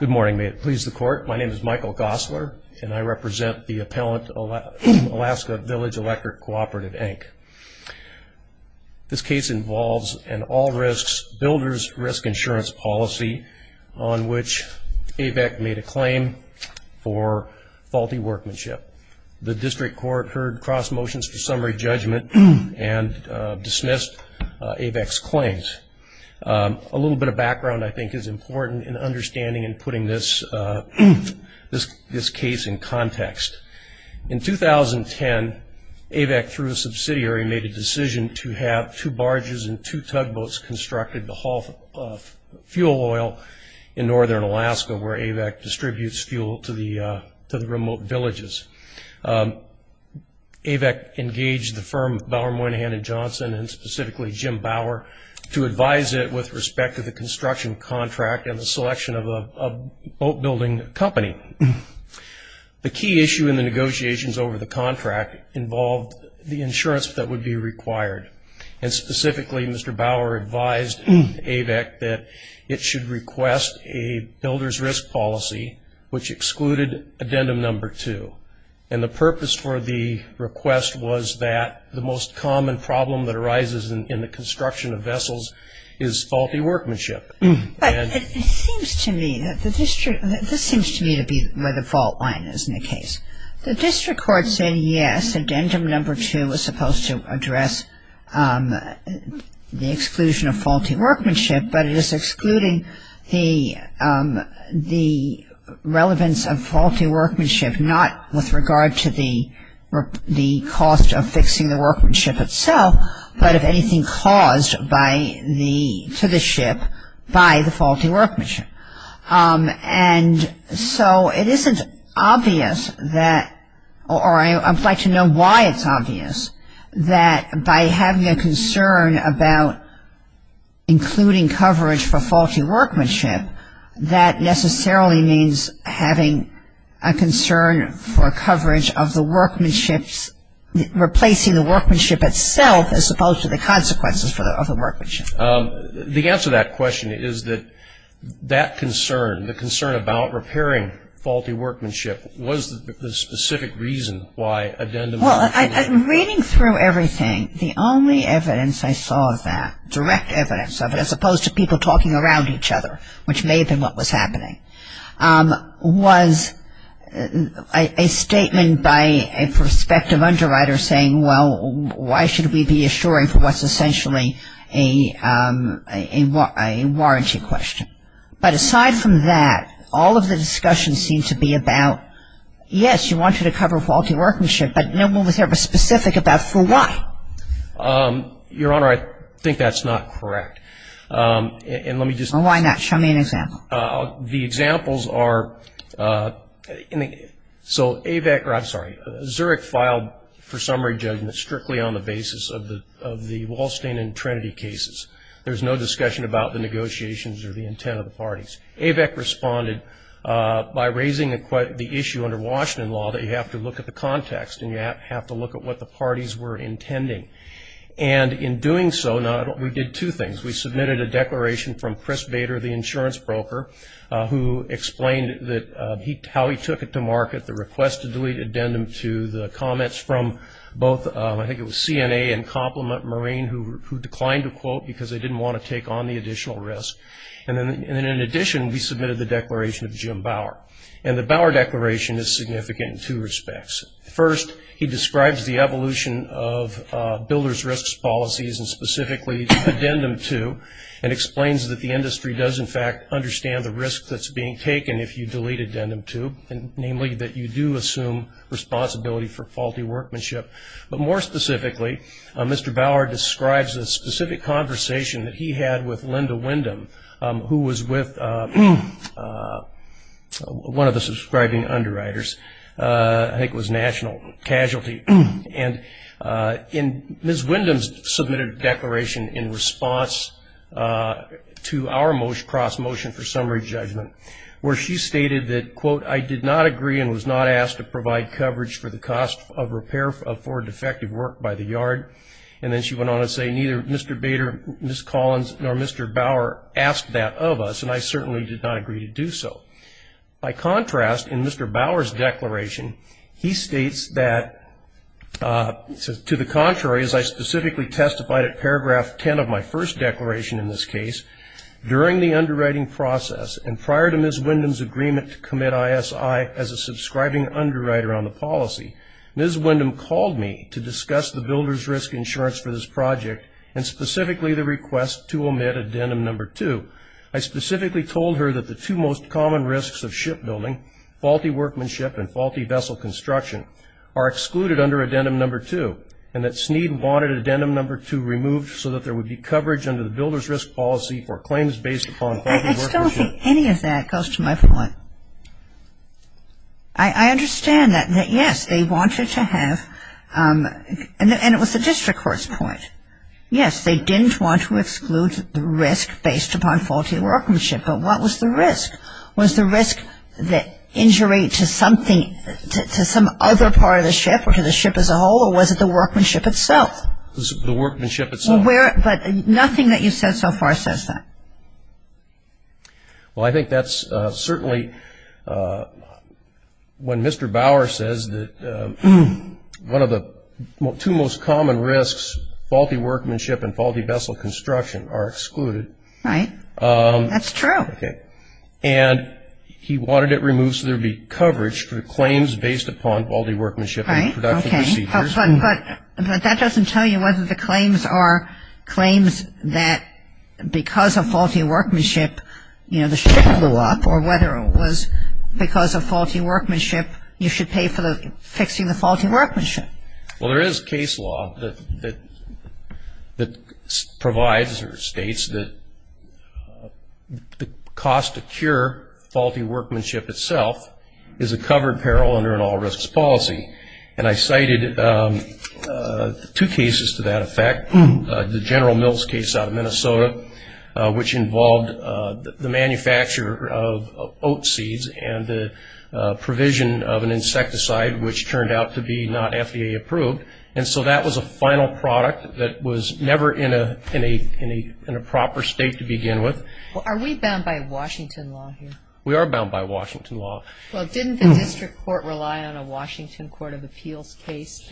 Good morning may it please the court my name is Michael Gosler and I represent the appellant Alaska Village Electric Cooperative Inc. This case involves an all risks builders risk insurance policy on which AVEC made a claim for faulty workmanship. The district court heard cross motions for summary judgment and dismissed AVEC's claims. A little bit of background I think is important in understanding and putting this case in context. In 2010 AVEC through a subsidiary made a decision to have two barges and two tugboats constructed to haul fuel oil in northern Alaska where AVEC distributes fuel to the remote villages. AVEC engaged the firm Bauer Moynihan & Johnson and specifically Jim Bauer to advise it with respect to the construction contract and selection of a boat building company. The key issue in the negotiations over the contract involved the insurance that would be required and specifically Mr. Bauer advised AVEC that it should request a builders risk policy which excluded addendum number two and the purpose for the request was that the most common problem that arises in the construction of vessels is faulty workmanship. But it seems to me that the district, this seems to me to be where the fault line is in the case. The district court said yes, addendum number two was supposed to address the exclusion of faulty workmanship but it is excluding the relevance of faulty workmanship not with regard to the cost of fixing the faulty workmanship. And so it isn't obvious that or I would like to know why it's obvious that by having a concern about including coverage for faulty workmanship that necessarily means having a concern for coverage of the workmanship, replacing the workmanship itself as opposed to the consequences of the workmanship. The answer to that question is that that concern, the concern about repairing faulty workmanship was the specific reason why addendum number two was excluded. Well, reading through everything, the only evidence I saw of that, direct evidence of it as opposed to people talking around each other, which may have been what was happening, was a statement by a prospective underwriter saying, well, why should we be assuring for what's essentially a warranty question. But aside from that, all of the discussion seemed to be about, yes, you wanted to cover faulty workmanship but no one was ever specific about for why. Your Honor, I think that's not correct. And why not? Show me an example. The examples are, so AVEC, I'm sorry, Zurich filed for summary judgment strictly on the basis of the Wall Street and Trinity cases. There's no discussion about the negotiations or the intent of the parties. AVEC responded by raising the issue under Washington law that you have to look at the context and you have to look at what the parties were intending. And in doing so, we did two things. We submitted a declaration from Chris Bower, who explained how he took it to market, the request to delete addendum 2, the comments from both, I think it was CNA and Compliment Marine who declined to quote because they didn't want to take on the additional risk. And in addition, we submitted the declaration of Jim Bower. And the Bower declaration is significant in two respects. First, he describes the evolution of builder's risk policies and specifically addendum 2 and explains that the industry does in fact understand the risk that's being taken if you delete addendum 2, namely that you do assume responsibility for faulty workmanship. But more specifically, Mr. Bower describes a specific conversation that he had with Linda Windham, who was with one of the subscribing underwriters. I think it was submitted a declaration in response to our most cross motion for summary judgment, where she stated that quote, I did not agree and was not asked to provide coverage for the cost of repair for defective work by the yard. And then she went on to say neither Mr. Bader, Ms. Collins, nor Mr. Bower asked that of us, and I certainly did not agree to do so. By contrast, in Mr. Bower's declaration, he states that to the contrary, as I specifically testified at paragraph 10 of my first declaration in this case, during the underwriting process and prior to Ms. Windham's agreement to commit ISI as a subscribing underwriter on the policy, Ms. Windham called me to discuss the builder's risk insurance for this project and specifically the request to omit addendum number 2. I specifically told her that the two most common risks of shipbuilding, faulty workmanship and faulty vessel construction, are excluded under addendum number 2 and that Sneed wanted addendum number 2 removed so that there would be coverage under the builder's risk policy for claims based upon faulty workmanship. I still don't think any of that goes to my point. I understand that yes, they wanted to have, and it was the district court's point. Yes, they didn't want to exclude the risk based upon faulty workmanship, but what was the risk? Was the risk that injury to something, to some other part of the ship, or to the ship as a whole, or was it the workmanship itself? The workmanship itself. But nothing that you've said so far says that. Well, I think that's certainly when Mr. Bauer says that one of the two most common risks, faulty workmanship and faulty vessel construction, are excluded. Right. That's true. And he wanted it removed so there would be coverage for claims based upon faulty workmanship and production procedures. Right. Okay. But that doesn't tell you whether the claims are claims that because of faulty workmanship, you know, the ship blew up or whether it was because of faulty workmanship, you should pay for fixing the faulty workmanship. Well, there is case law that provides or states that the cost to cure an injury to something is an all risks policy. And I cited two cases to that effect. The General Mills case out of Minnesota, which involved the manufacture of oat seeds and the provision of an insecticide, which turned out to be not FDA approved. And so that was a final product that was never in a proper state to begin with. Well, are we bound by Washington law here? We are bound by Washington law. Well, didn't the district court rely on a Washington Court of Appeals case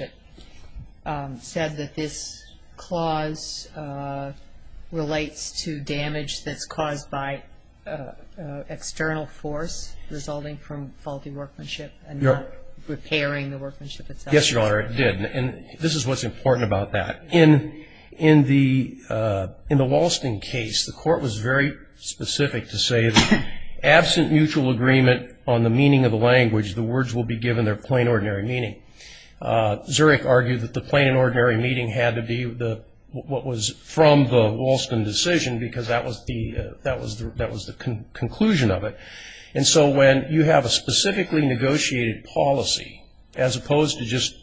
that said that this clause relates to damage that's caused by external force resulting from faulty workmanship and not repairing the workmanship itself? Yes, Your Honor, it did. And this is what's important about that. In the Walston case, the court was very specific to say that absent mutual agreement on the meaning of the language, the words will be given their plain ordinary meaning. Zurich argued that the plain and ordinary meaning had to be what was from the Walston decision because that was the conclusion of it. And so when you have a specifically negotiated policy, as opposed to just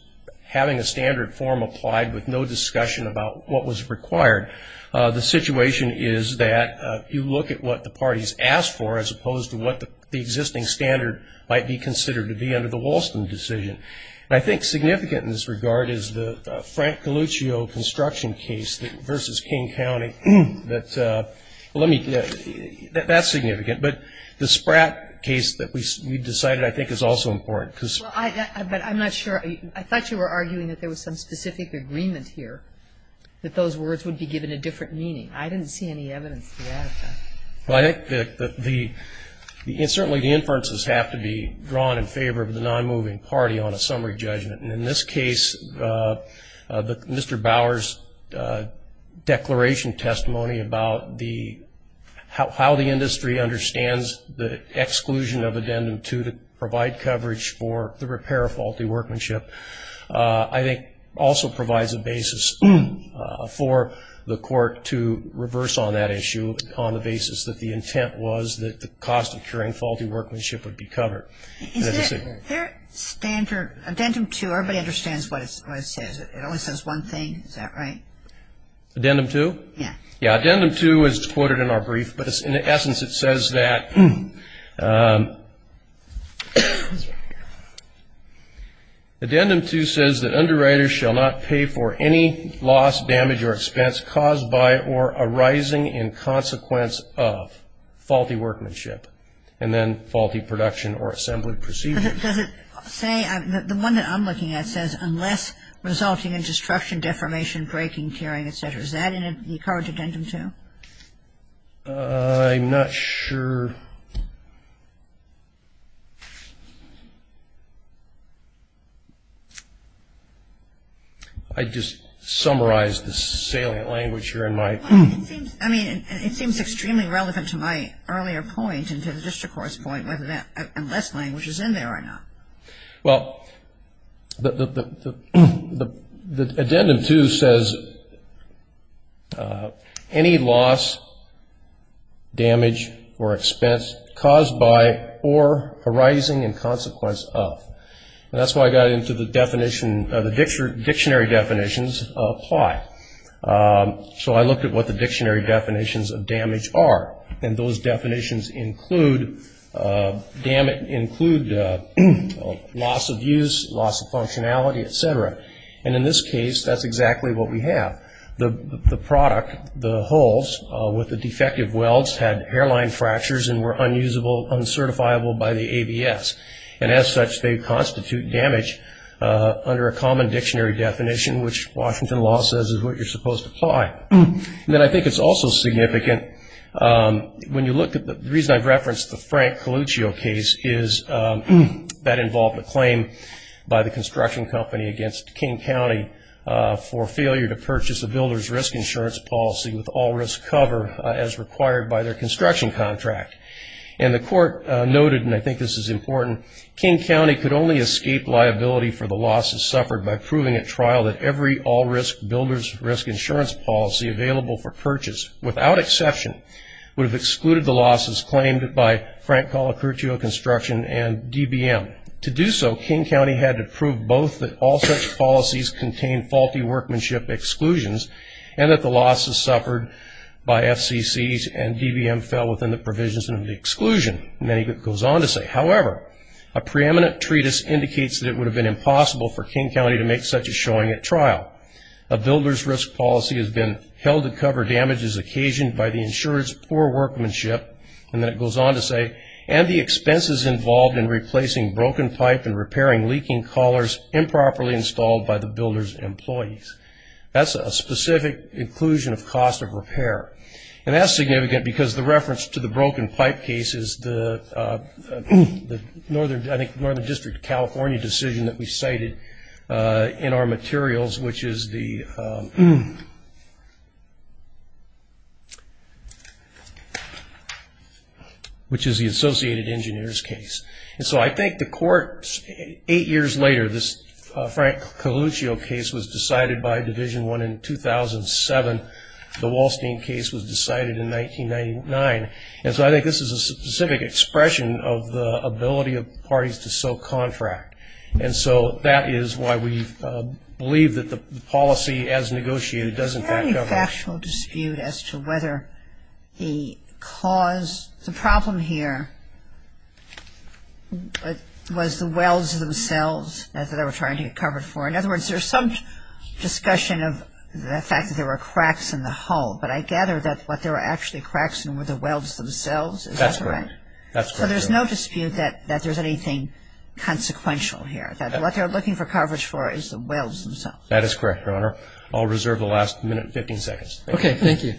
having a standard form applied with no discussion about what was required, the situation is that you look at what the parties asked for as opposed to what the existing standard might be considered to be under the Walston decision. And I think significant in this regard is the Frank Galluccio construction case versus King County. That's significant. But the Spratt case that we decided, I think, is also important. Well, I'm not sure. I thought you were arguing that there was some specific agreement here that those words would be given a different meaning. I didn't see any evidence for that at the time. Well, I think that certainly the inferences have to be drawn in favor of the non-moving party on a summary judgment. And in this case, Mr. Bower's declaration testimony about how the industry understands the exclusion of addendum 2 to provide coverage for the repair of faulty workmanship, I think, also provides a basis for the intent was that the cost of curing faulty workmanship would be covered. Is there standard addendum 2? Everybody understands what it says. It only says one thing. Is that right? Addendum 2? Yeah. Yeah. Addendum 2 is quoted in our brief. But in essence, it says that, addendum 2 says that underwriters shall not pay for any loss, damage, or expense caused by or arising in consequence of faulty workmanship and then faulty production or assembly procedure. But does it say, the one that I'm looking at says, unless resulting in destruction, deformation, breaking, tearing, et cetera. Is that in the current addendum 2? I'm not sure. I just summarized the salient language here in my It seems extremely relevant to my earlier point and to the district court's point, unless language is in there or not. Well, the addendum 2 says, any loss, damage, or expense caused by or arising in consequence of. And that's why I got into the dictionary definitions of apply. So I looked at what the dictionary definitions of damage are. And those definitions include loss of use, loss of functionality, et cetera. And in this case, that's exactly what we have. The product, the holes with the defective welds had hairline fractures and were unusable, uncertifiable by the ABS. And as such, they constitute damage under a common dictionary definition, which Washington law says is what you're supposed to apply. Then I think it's also significant when you look at the reason I've referenced the Frank Coluccio case is that involved a claim by the construction company against King County for failure to purchase a builder's risk insurance policy with all risk cover as required by their construction contract. And the court noted, and I think this is important, King County could only escape liability for the losses suffered by proving at trial that every all risk builder's risk insurance policy available for purchase, without exception, would have excluded the losses claimed by Frank Coluccio Construction and DBM. To do so, King County had to prove both that all such policies contain faulty workmanship exclusions and that the losses suffered by FCCs and DBM fell within the provisions of the exclusion. And then he goes on to say, however, a preeminent treatise indicates that it would have been impossible for King County to make such a showing at trial that the policy has been held to cover damages occasioned by the insurer's poor workmanship, and then it goes on to say, and the expenses involved in replacing broken pipe and repairing leaking collars improperly installed by the builder's employees. That's a specific inclusion of cost of repair. And that's significant because the reference to the broken pipe case is the Northern District of Virginia, which is the Associated Engineers case. And so I think the court, eight years later, this Frank Coluccio case was decided by Division I in 2007. The Wallstein case was decided in 1999. And so I think this is a specific expression of the ability of parties to sell contract. And so that is why we believe that the policy as described in this case would have been possible to cover damages to be the case. So there's no factual dispute as to whether the cause, the problem here, was the wells themselves that they were trying to get covered for. In other words, there's some discussion of the fact that there were cracks in the hull. But I gather that what there were actually cracks in were the wells themselves. Is that correct? That's correct, Your Honor. I'll reserve the last minute and 15 seconds. Okay. Thank you.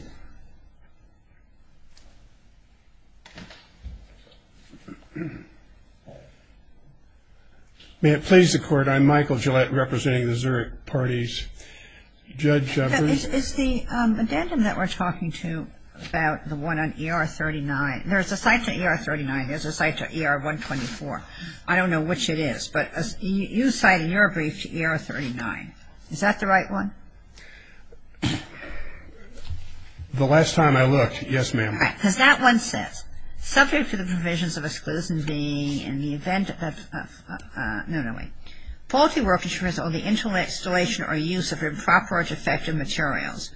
May it please the Court, I'm Michael Gillette, representing the Zurich parties. Judge? It's the addendum that we're talking to about the one on ER 39. There's a cite to ER 39. There's a cite to ER 124. I don't know which it is. But you cited your brief to ER 39. Is that the right one? The last time I looked, yes, ma'am. Right. Because that one says, subject to the provisions of exclusion being in the event of, no, no, wait, faulty work which results in the installation or use of improper or defective materials,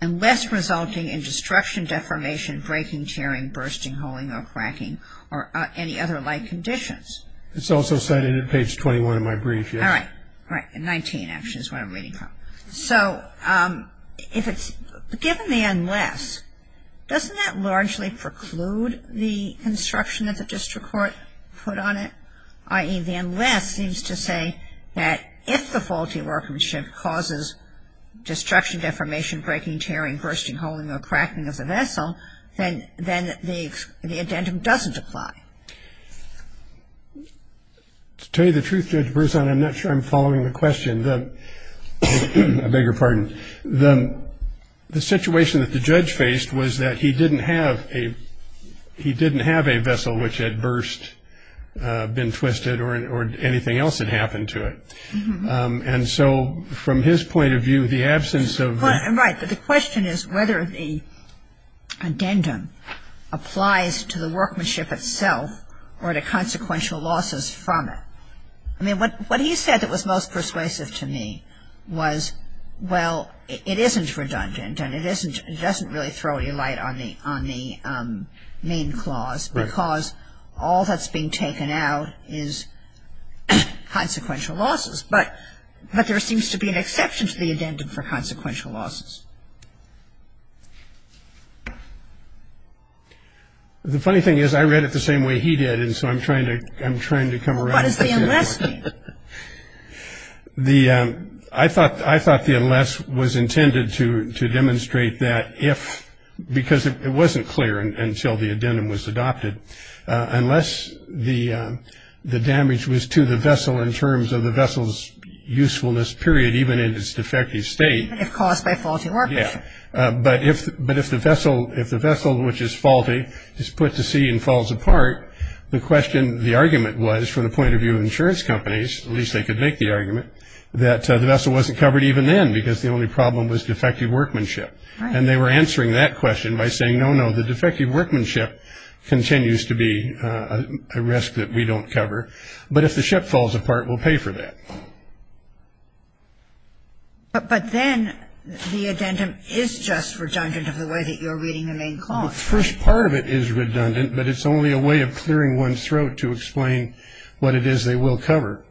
unless resulting in destruction, deformation, breaking, tearing, bursting, holing, or cracking, or any other like conditions. It's also cited in page 21 of my brief, yes. All right. All right. And 19, actually, is what I'm reading from. So, if it's, given the unless, doesn't that largely preclude the instruction that the district court put on it? I.e., the unless seems to say that if the faulty workmanship causes destruction, deformation, breaking, tearing, bursting, holing, or cracking of the vessel, then the addendum doesn't apply. To tell you the truth, Judge Berzon, I'm not sure I'm following the question. I beg your pardon. The situation that the judge faced was that he didn't have a, he didn't have a vessel which had burst, been twisted, or anything else had happened to it. And so, from his point of view, the absence of. Right. But the question is whether the addendum applies to the vessel or to consequential losses from it. I mean, what he said that was most persuasive to me was, well, it isn't redundant, and it isn't, it doesn't really throw any light on the, on the main clause. Right. Because all that's being taken out is consequential losses. But, but there seems to be an exception to the addendum for consequential losses. The funny thing is, I read it the same way he did, and so I'm trying to, I'm trying to come around. Well, what does the unless mean? The, I thought, I thought the unless was intended to, to demonstrate that if, because it wasn't clear until the addendum was adopted, unless the, the damage was to the vessel in terms of the vessel's usefulness, period, even in its defective state. Even if caused by faulty equipment. Yeah. But if, but if the vessel, if the vessel, which is faulty, is put to sea and falls apart, the question, the argument was, from the point of view of insurance companies, at least they could make the argument, that the vessel wasn't covered even then, because the only problem was defective workmanship. And they were answering that question by saying, no, no, the defective workmanship continues to be a risk that we don't cover. But if the ship falls apart, we'll pay for that. But, but then, the addendum is just redundant of the way that you're reading the main clause. The first part of it is redundant, but it's only a way of clearing one's throat to explain what it is they will cover.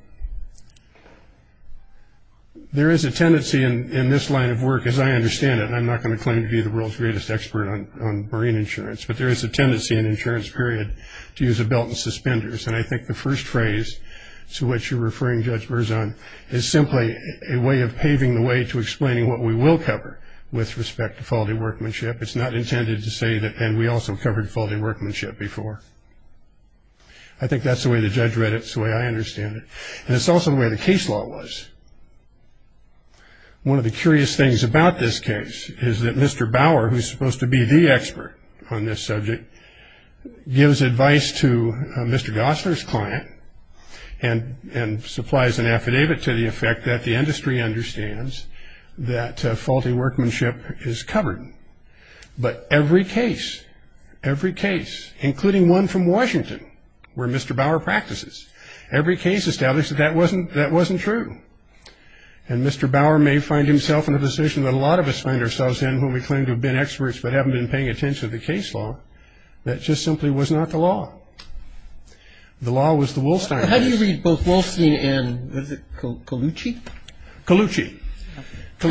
There is a tendency in, in this line of work, as I understand it, and I'm not going to claim to be the world's greatest expert on, on marine insurance. But there is a tendency in the insurance period to use a belt and suspenders. And I think the first phrase to which you're referring, Judge Berzon, is simply a way of paving the way to explaining what we will cover with respect to faulty workmanship. It's not intended to say that, and we also covered faulty workmanship before. I think that's the way the judge read it. It's the way I understand it. And it's also the way the case law was. One of the curious things about this case is that Mr. Bauer, who's supposed to be the expert on this subject, gives advice to Mr. Gosler's client and, and supplies an affidavit to the effect that the industry understands that faulty workmanship is covered. But every case, every case, including one from Washington where Mr. Bauer practices, every case established that that wasn't, that wasn't true. And Mr. Bauer may find himself in a position that a lot of us find ourselves in when we claim to have been experts but haven't been paying attention to the case law, that just simply was not the law. The law was the Wolstein case. How do you read both Wolstein and, what is it, Colucci? Colucci. Colucci.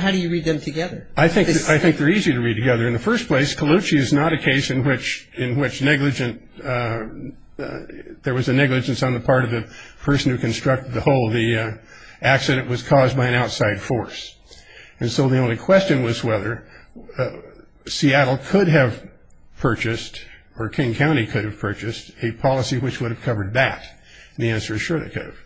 How do you read them together? I think, I think they're easy to read together. In the first place, Colucci is not a case in which, in which negligent, there was a negligence on the part of the person who constructed the hole. The accident was caused by an outside force. And so the only question was whether Seattle could have purchased, or King County could have purchased, a policy which would have covered that. And the answer is sure they could have.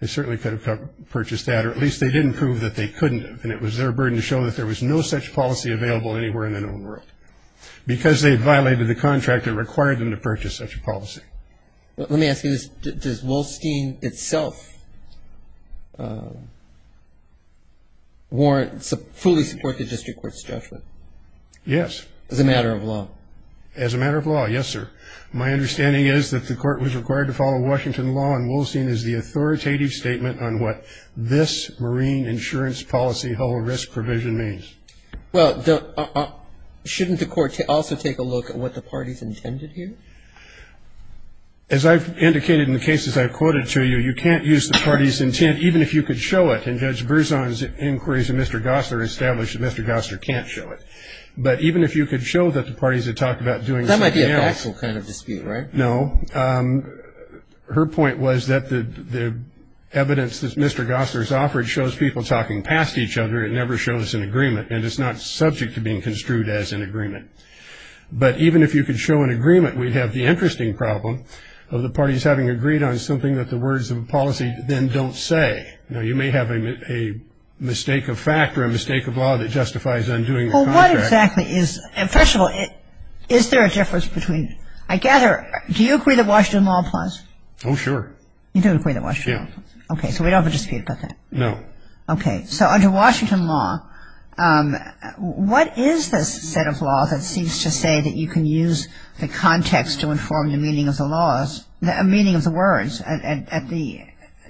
They certainly could have purchased that, or at least they didn't prove that they couldn't have. And it was their burden to show that there was no such policy available anywhere in the known world. Because they violated the contract, it required them to purchase such a policy. Let me ask you this. Does Wolstein itself fully support the district court's judgment? Yes. As a matter of law? As a matter of law, yes, sir. My understanding is that the court was required to follow Washington law, and Wolstein is the authoritative statement on what this marine insurance policy whole risk provision means. Well, shouldn't the court also take a look at what the party's intended here? As I've indicated in the cases I've quoted to you, you can't use the party's intent, even if you could show it. And Judge Berzon's inquiries of Mr. Gossler established that Mr. Gossler can't show it. But even if you could show that the parties had talked about doing something else- That might be a factual kind of dispute, right? No, her point was that the evidence that Mr. Gossler's offered shows people talking past each other. It never shows an agreement, and it's not subject to being construed as an agreement. But even if you could show an agreement, we'd have the interesting problem of the parties having agreed on something that the words of a policy then don't say. Now, you may have a mistake of fact or a mistake of law that justifies undoing- Well, what exactly is, and first of all, is there a difference between, I gather, do you agree that Washington law applies? Oh, sure. You do agree that Washington law applies? Yeah. Okay, so we don't have a dispute about that? No. Okay, so under Washington law, what is this set of law that seems to say that you can use the context to inform the meaning of the words at the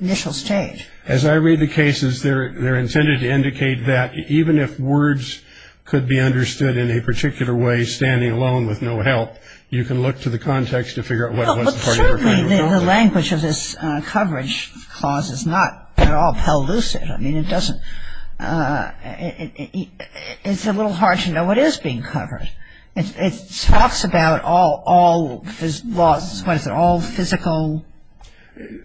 initial stage? As I read the cases, they're intended to indicate that even if words could be understood in a particular way, standing alone with no help, you can look to the context to figure out what was the party referring to. Clearly, the language of this coverage clause is not, they're all pellucid. I mean, it doesn't, it's a little hard to know what is being covered. It talks about all, what is it, all physical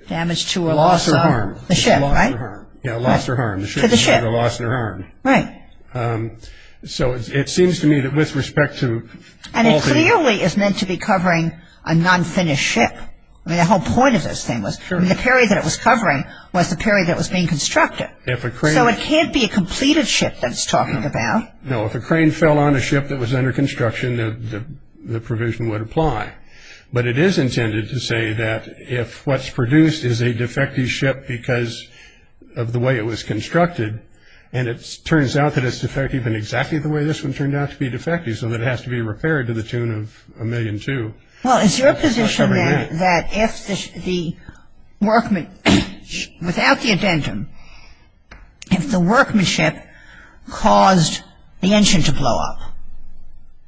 damage to or loss of the ship, right? Lost or harmed. Yeah, lost or harmed. The ship is either lost or harmed. So it seems to me that with respect to all the- And it clearly is meant to be covering a non-finished ship. I mean, the whole point of this thing was, I mean, the period that it was covering was the period that it was being constructed. If a crane- So it can't be a completed ship that it's talking about. No, if a crane fell on a ship that was under construction, the provision would apply. But it is intended to say that if what's produced is a defective ship because of the way it was constructed, and it turns out that it's defective in exactly the way this one turned out to be defective, so that it has to be repaired to the tune of a million two. Well, it's your position then that if the workmanship, without the addendum, if the workmanship caused the engine to blow up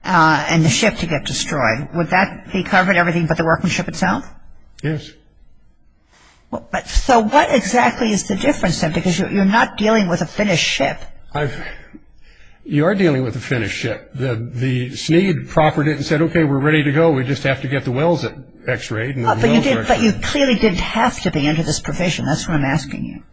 and the ship to get destroyed, would that be covering everything but the workmanship itself? Yes. So what exactly is the difference then? Because you're not dealing with a finished ship. I've, you are dealing with a finished ship. The SNEAD proffered it and said, okay, we're ready to go. We just have to get the wells x-rayed. But you clearly didn't have to be under this provision. That's what I'm asking you.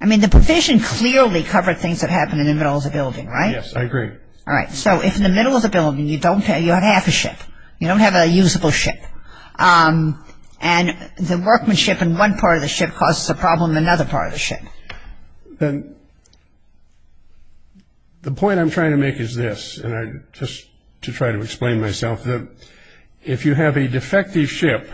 I mean, the provision clearly covered things that happened in the middle of the building, right? Yes, I agree. All right, so if in the middle of the building you don't have, you have half a ship, you don't have a usable ship, and the workmanship in one part of the ship causes a problem in another part of the ship. Then the point I'm trying to make is this, and I, just to try to explain myself, that if you have a defective ship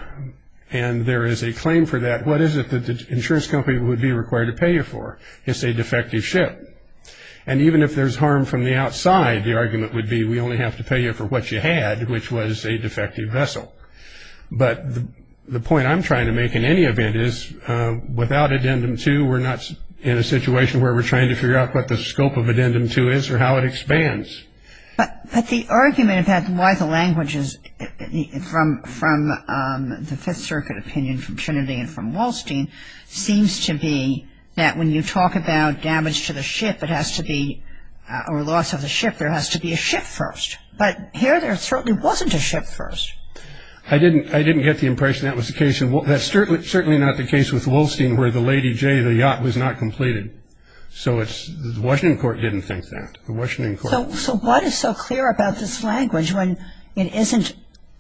and there is a claim for that, what is it that the insurance company would be required to pay you for? It's a defective ship. And even if there's harm from the outside, the argument would be, we only have to pay you for what you had, which was a defective vessel. But the point I'm trying to make in any event is, without Addendum 2, we're not in a situation where we're trying to figure out what the scope of Addendum 2 is or how it expands. But the argument about why the language is from the Fifth Circuit opinion, from Trinity and from Wallstein, seems to be that when you talk about damage to the ship, it has to be, or loss of the ship, there has to be a ship first. But here, there certainly wasn't a ship first. I didn't get the impression that was the case, and that's certainly not the case with Wallstein, where the Lady J, the yacht, was not completed. So the Washington court didn't think that. The Washington court. So what is so clear about this language when it isn't,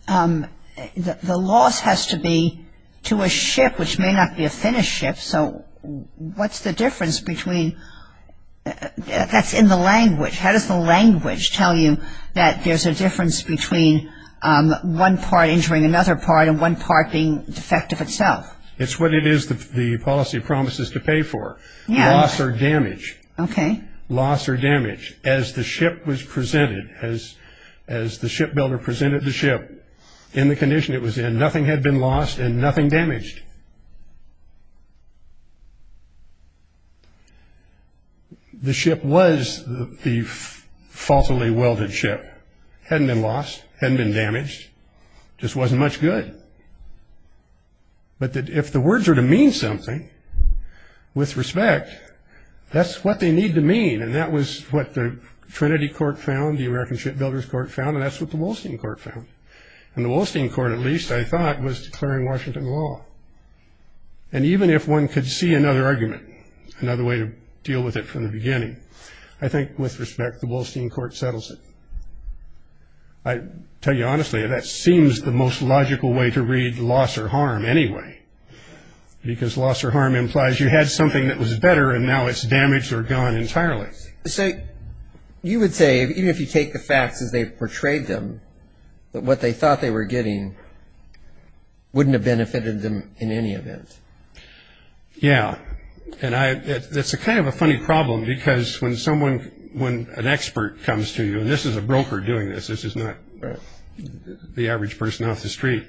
the loss has to be to a ship, which may not be a finished ship. So what's the difference between, that's in the language. How does the language tell you that there's a difference between one part injuring another part and one part being defective itself? It's what it is that the policy promises to pay for, loss or damage. Okay. Loss or damage. As the ship was presented, as the shipbuilder presented the ship in the condition it was in, nothing had been lost and nothing damaged. The ship was the falsely welded ship. Hadn't been lost. Hadn't been damaged. Just wasn't much good. But if the words are to mean something, with respect, that's what they need to mean. And that was what the Trinity Court found, the American Shipbuilders Court found, and that's what the Wallstein Court found. And the Wallstein Court, at least, I thought, was declaring Washington law. And even if one could see another argument, another way to deal with it from the beginning, I think, with respect, the Wallstein Court settles it. I tell you honestly, that seems the most logical way to read loss or harm anyway. Because loss or harm implies you had something that was better and now it's damaged or gone entirely. So you would say, even if you take the facts as they portrayed them, that what they thought they were getting wouldn't have benefited them in any event. Yeah. And that's kind of a funny problem. Because when someone, when an expert comes to you, and this is a broker doing this, this is not the average person off the street.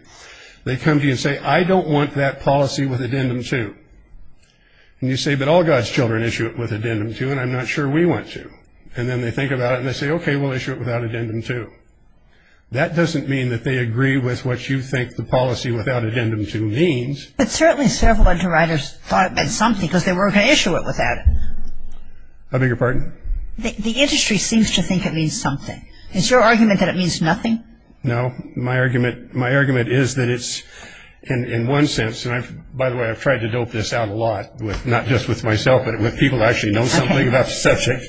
They come to you and say, I don't want that policy with addendum two. And you say, but all God's children issue it with addendum two, and I'm not sure we want to. And then they think about it and they say, okay, we'll issue it without addendum two. That doesn't mean that they agree with what you think the policy without addendum two means. But certainly several underwriters thought it meant something, because they weren't going to issue it without it. I beg your pardon? The industry seems to think it means something. Is your argument that it means nothing? No. My argument is that it's, in one sense, and by the way, I've tried to dope this out a lot, not just with myself, but with people who actually know something about the subject.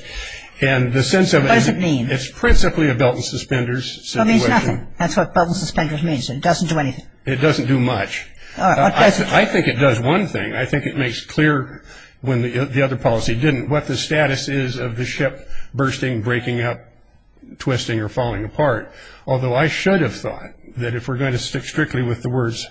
And the sense of it is, it's principally a belt and suspenders situation. So it means nothing. That's what belt and suspenders means. It doesn't do anything. It doesn't do much. I think it does one thing. I think it makes clear, when the other policy didn't, what the status is of the ship bursting, breaking up, twisting, or falling apart. Although I should have thought that if we're going to stick strictly with the words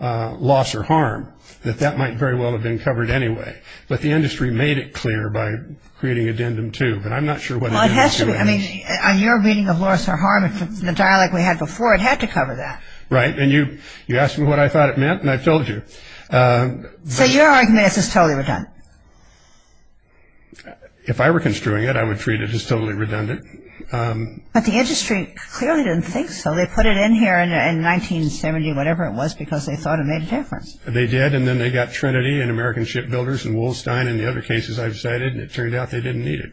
loss or harm, that that might very well have been covered anyway. But the industry made it clear by creating addendum two. But I'm not sure what addendum two is. I mean, on your reading of loss or harm, the dialogue we had before, it had to cover that. Right. And you asked me what I thought it meant, and I told you. So your argument is it's totally redundant? If I were construing it, I would treat it as totally redundant. But the industry clearly didn't think so. They put it in here in 1970, whatever it was, because they thought it made a difference. They did, and then they got Trinity and American Shipbuilders and Wolstein and the other cases I've cited, and it turned out they didn't need it.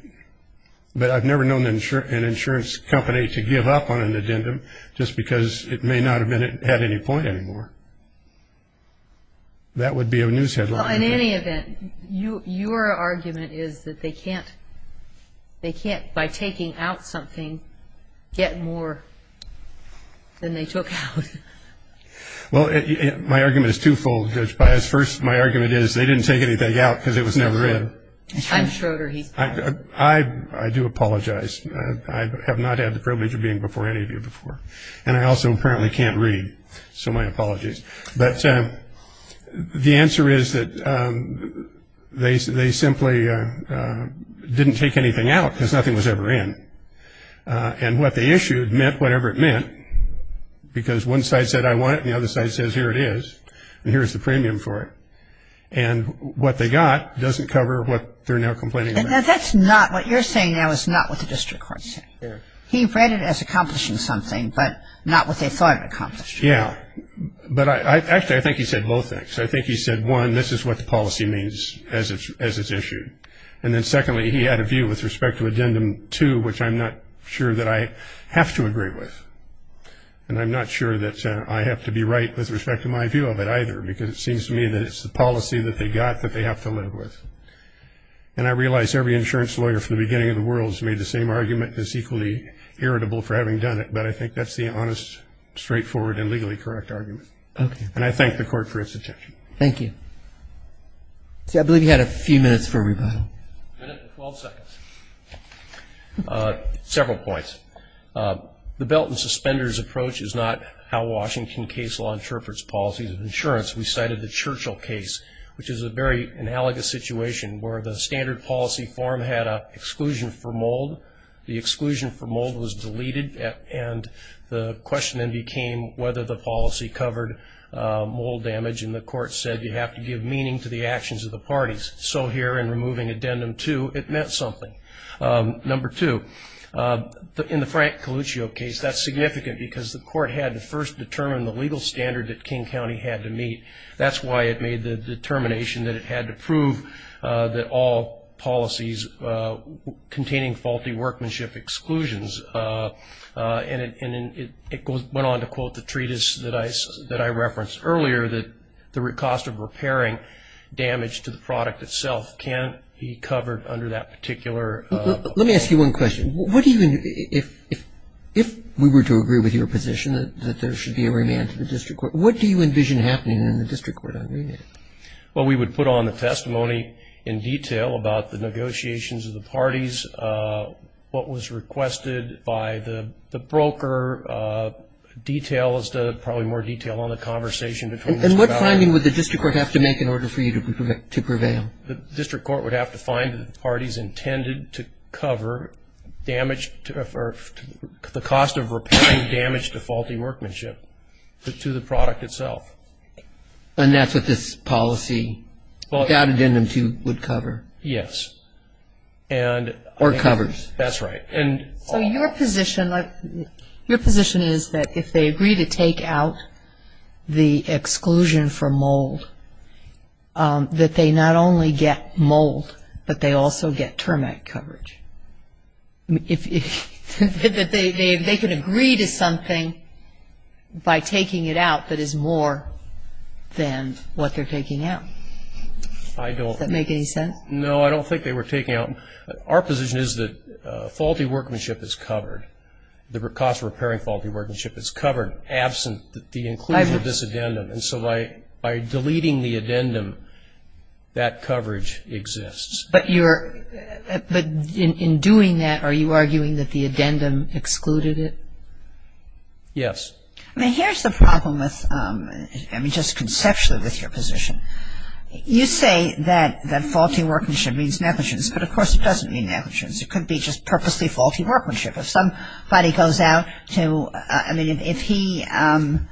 But I've never known an insurance company to give up on an addendum just because it may not have had any point anymore. That would be a news headline. Well, in any event, your argument is that they can't, by taking out something, get more than they took out. Well, my argument is twofold, Judge Pius. First, my argument is they didn't take anything out because it was never in. I'm shorter. He's taller. I do apologize. I have not had the privilege of being before any of you before, and I also apparently can't read, so my apologies. But the answer is that they simply didn't take anything out because nothing was ever in. And what they issued meant whatever it meant, because one side said, I want it, and the other side says, here it is, and here's the premium for it. And what they got doesn't cover what they're now complaining about. That's not what you're saying now is not what the district court said. He read it as accomplishing something, but not what they thought it accomplished. Yeah, but actually, I think he said both things. I think he said, one, this is what the policy means as it's issued, and then secondly, he had a view with respect to Addendum 2, which I'm not sure that I have to agree with. And I'm not sure that I have to be right with respect to my view of it either, because it seems to me that it's the policy that they got that they have to live with. And I realize every insurance lawyer from the beginning of the world has made the same argument as equally irritable for having done it, but I think that's the honest, straightforward, and legally correct argument. Okay. And I thank the court for its attention. Thank you. See, I believe you had a few minutes for a rebuttal. A minute and 12 seconds. Several points. The belt and suspenders approach is not how Washington case law interprets policies of insurance. We cited the Churchill case, which is a very analogous situation where the standard policy form had an exclusion for mold. The exclusion for mold was deleted, and the question then became whether the policy covered mold damage, and the court said you have to give meaning to the actions of the parties. So here, in removing addendum two, it meant something. Number two, in the Frank Coluccio case, that's significant because the court had to first determine the legal standard that King County had to meet. That's why it made the determination that it had to prove that all policies containing faulty workmanship exclusions. And it went on to quote the treatise that I referenced earlier that the cost of repairing damage to the product itself can't be covered under that particular. Let me ask you one question. What do you, if we were to agree with your position that there should be a remand to the district court, what do you envision happening in the district court on remand? Well, we would put on the testimony in detail about the negotiations of the parties, what was requested by the broker, details, probably more detail on the conversation. And what finding would the district court have to make in order for you to prevail? The district court would have to find that the parties intended to cover damage, or the cost of repairing damage to faulty workmanship to the product itself. And that's what this policy, that addendum two would cover? Yes. And. Or covers. That's right. So your position is that if they agree to take out the exclusion for mold, that they not only get mold, but they also get termite coverage. If they can agree to something by taking it out that is more than what they're taking out. I don't. Does that make any sense? No, I don't think they were taking out. Our position is that faulty workmanship is covered. The cost of repairing faulty workmanship is covered absent the inclusion of this addendum. And so by deleting the addendum, that coverage exists. But in doing that, are you arguing that the addendum excluded it? Yes. Now, here's the problem with, I mean, just conceptually with your position. You say that faulty workmanship means negligence, but of course it doesn't mean negligence. It could be just purposely faulty workmanship. If somebody goes out to, I mean, if he, in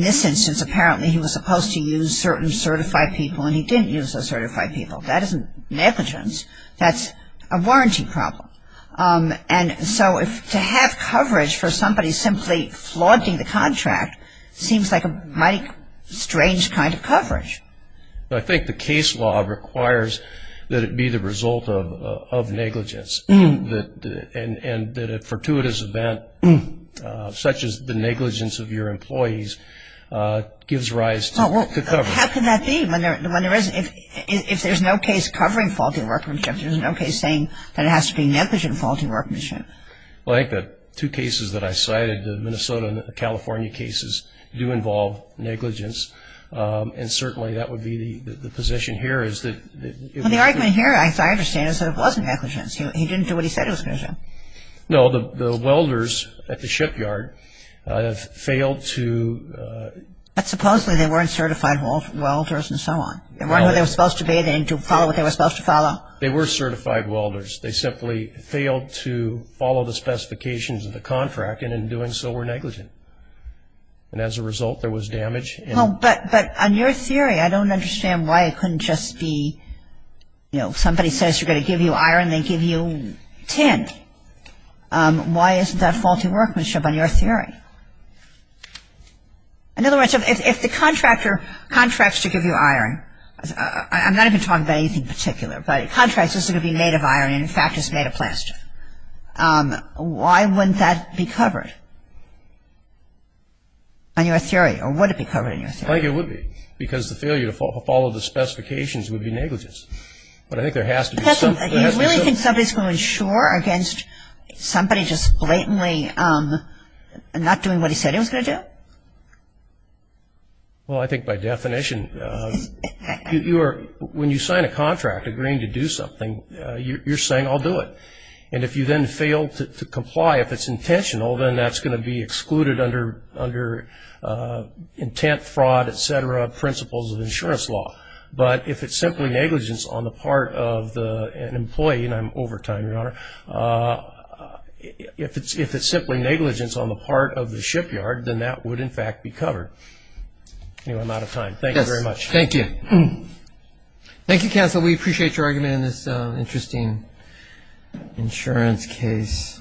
this instance, apparently he was supposed to use certain certified people and he didn't use those certified people. That isn't negligence. That's a warranty problem. And so to have coverage for somebody simply flaunting the contract seems like a mighty strange kind of coverage. I think the case law requires that it be the result of negligence. And that a fortuitous event, such as the negligence of your employees, gives rise to coverage. How can that be? If there's no case covering faulty workmanship, there's no case saying that it has to be negligent faulty workmanship. Well, I think the two cases that I cited, the Minnesota and the California cases, do involve negligence. And certainly that would be the position here is that it was negligent. Well, the argument here, as I understand it, is that it wasn't negligence. He didn't do what he said it was going to do. No, the welders at the shipyard have failed to. But supposedly they weren't certified welders and so on. They weren't who they were supposed to be. They didn't follow what they were supposed to follow. They were certified welders. They simply failed to follow the specifications of the contract. And in doing so, were negligent. And as a result, there was damage. Well, but on your theory, I don't understand why it couldn't just be, you know, somebody says they're going to give you iron, they give you tin. Why isn't that faulty workmanship on your theory? In other words, if the contractor contracts to give you iron, I'm not even talking about anything particular, but contracts are going to be made of iron, in fact, it's made of plaster. Why wouldn't that be covered on your theory? Or would it be covered in your theory? I think it would be. Because the failure to follow the specifications would be negligence. But I think there has to be something. You really think somebody's going to insure against somebody just blatantly not doing what he said he was going to do? Well, I think by definition, when you sign a contract agreeing to do something, you're saying I'll do it. And if you then fail to comply, if it's intentional, then that's going to be excluded under intent, fraud, et cetera, principles of insurance law. But if it's simply negligence on the part of an employee, and I'm over time, Your Honor, if it's simply negligence on the part of the shipyard, then that would, in fact, be covered. Anyway, I'm out of time. Thank you very much. Thank you. Thank you, counsel. We appreciate your argument in this interesting insurance case.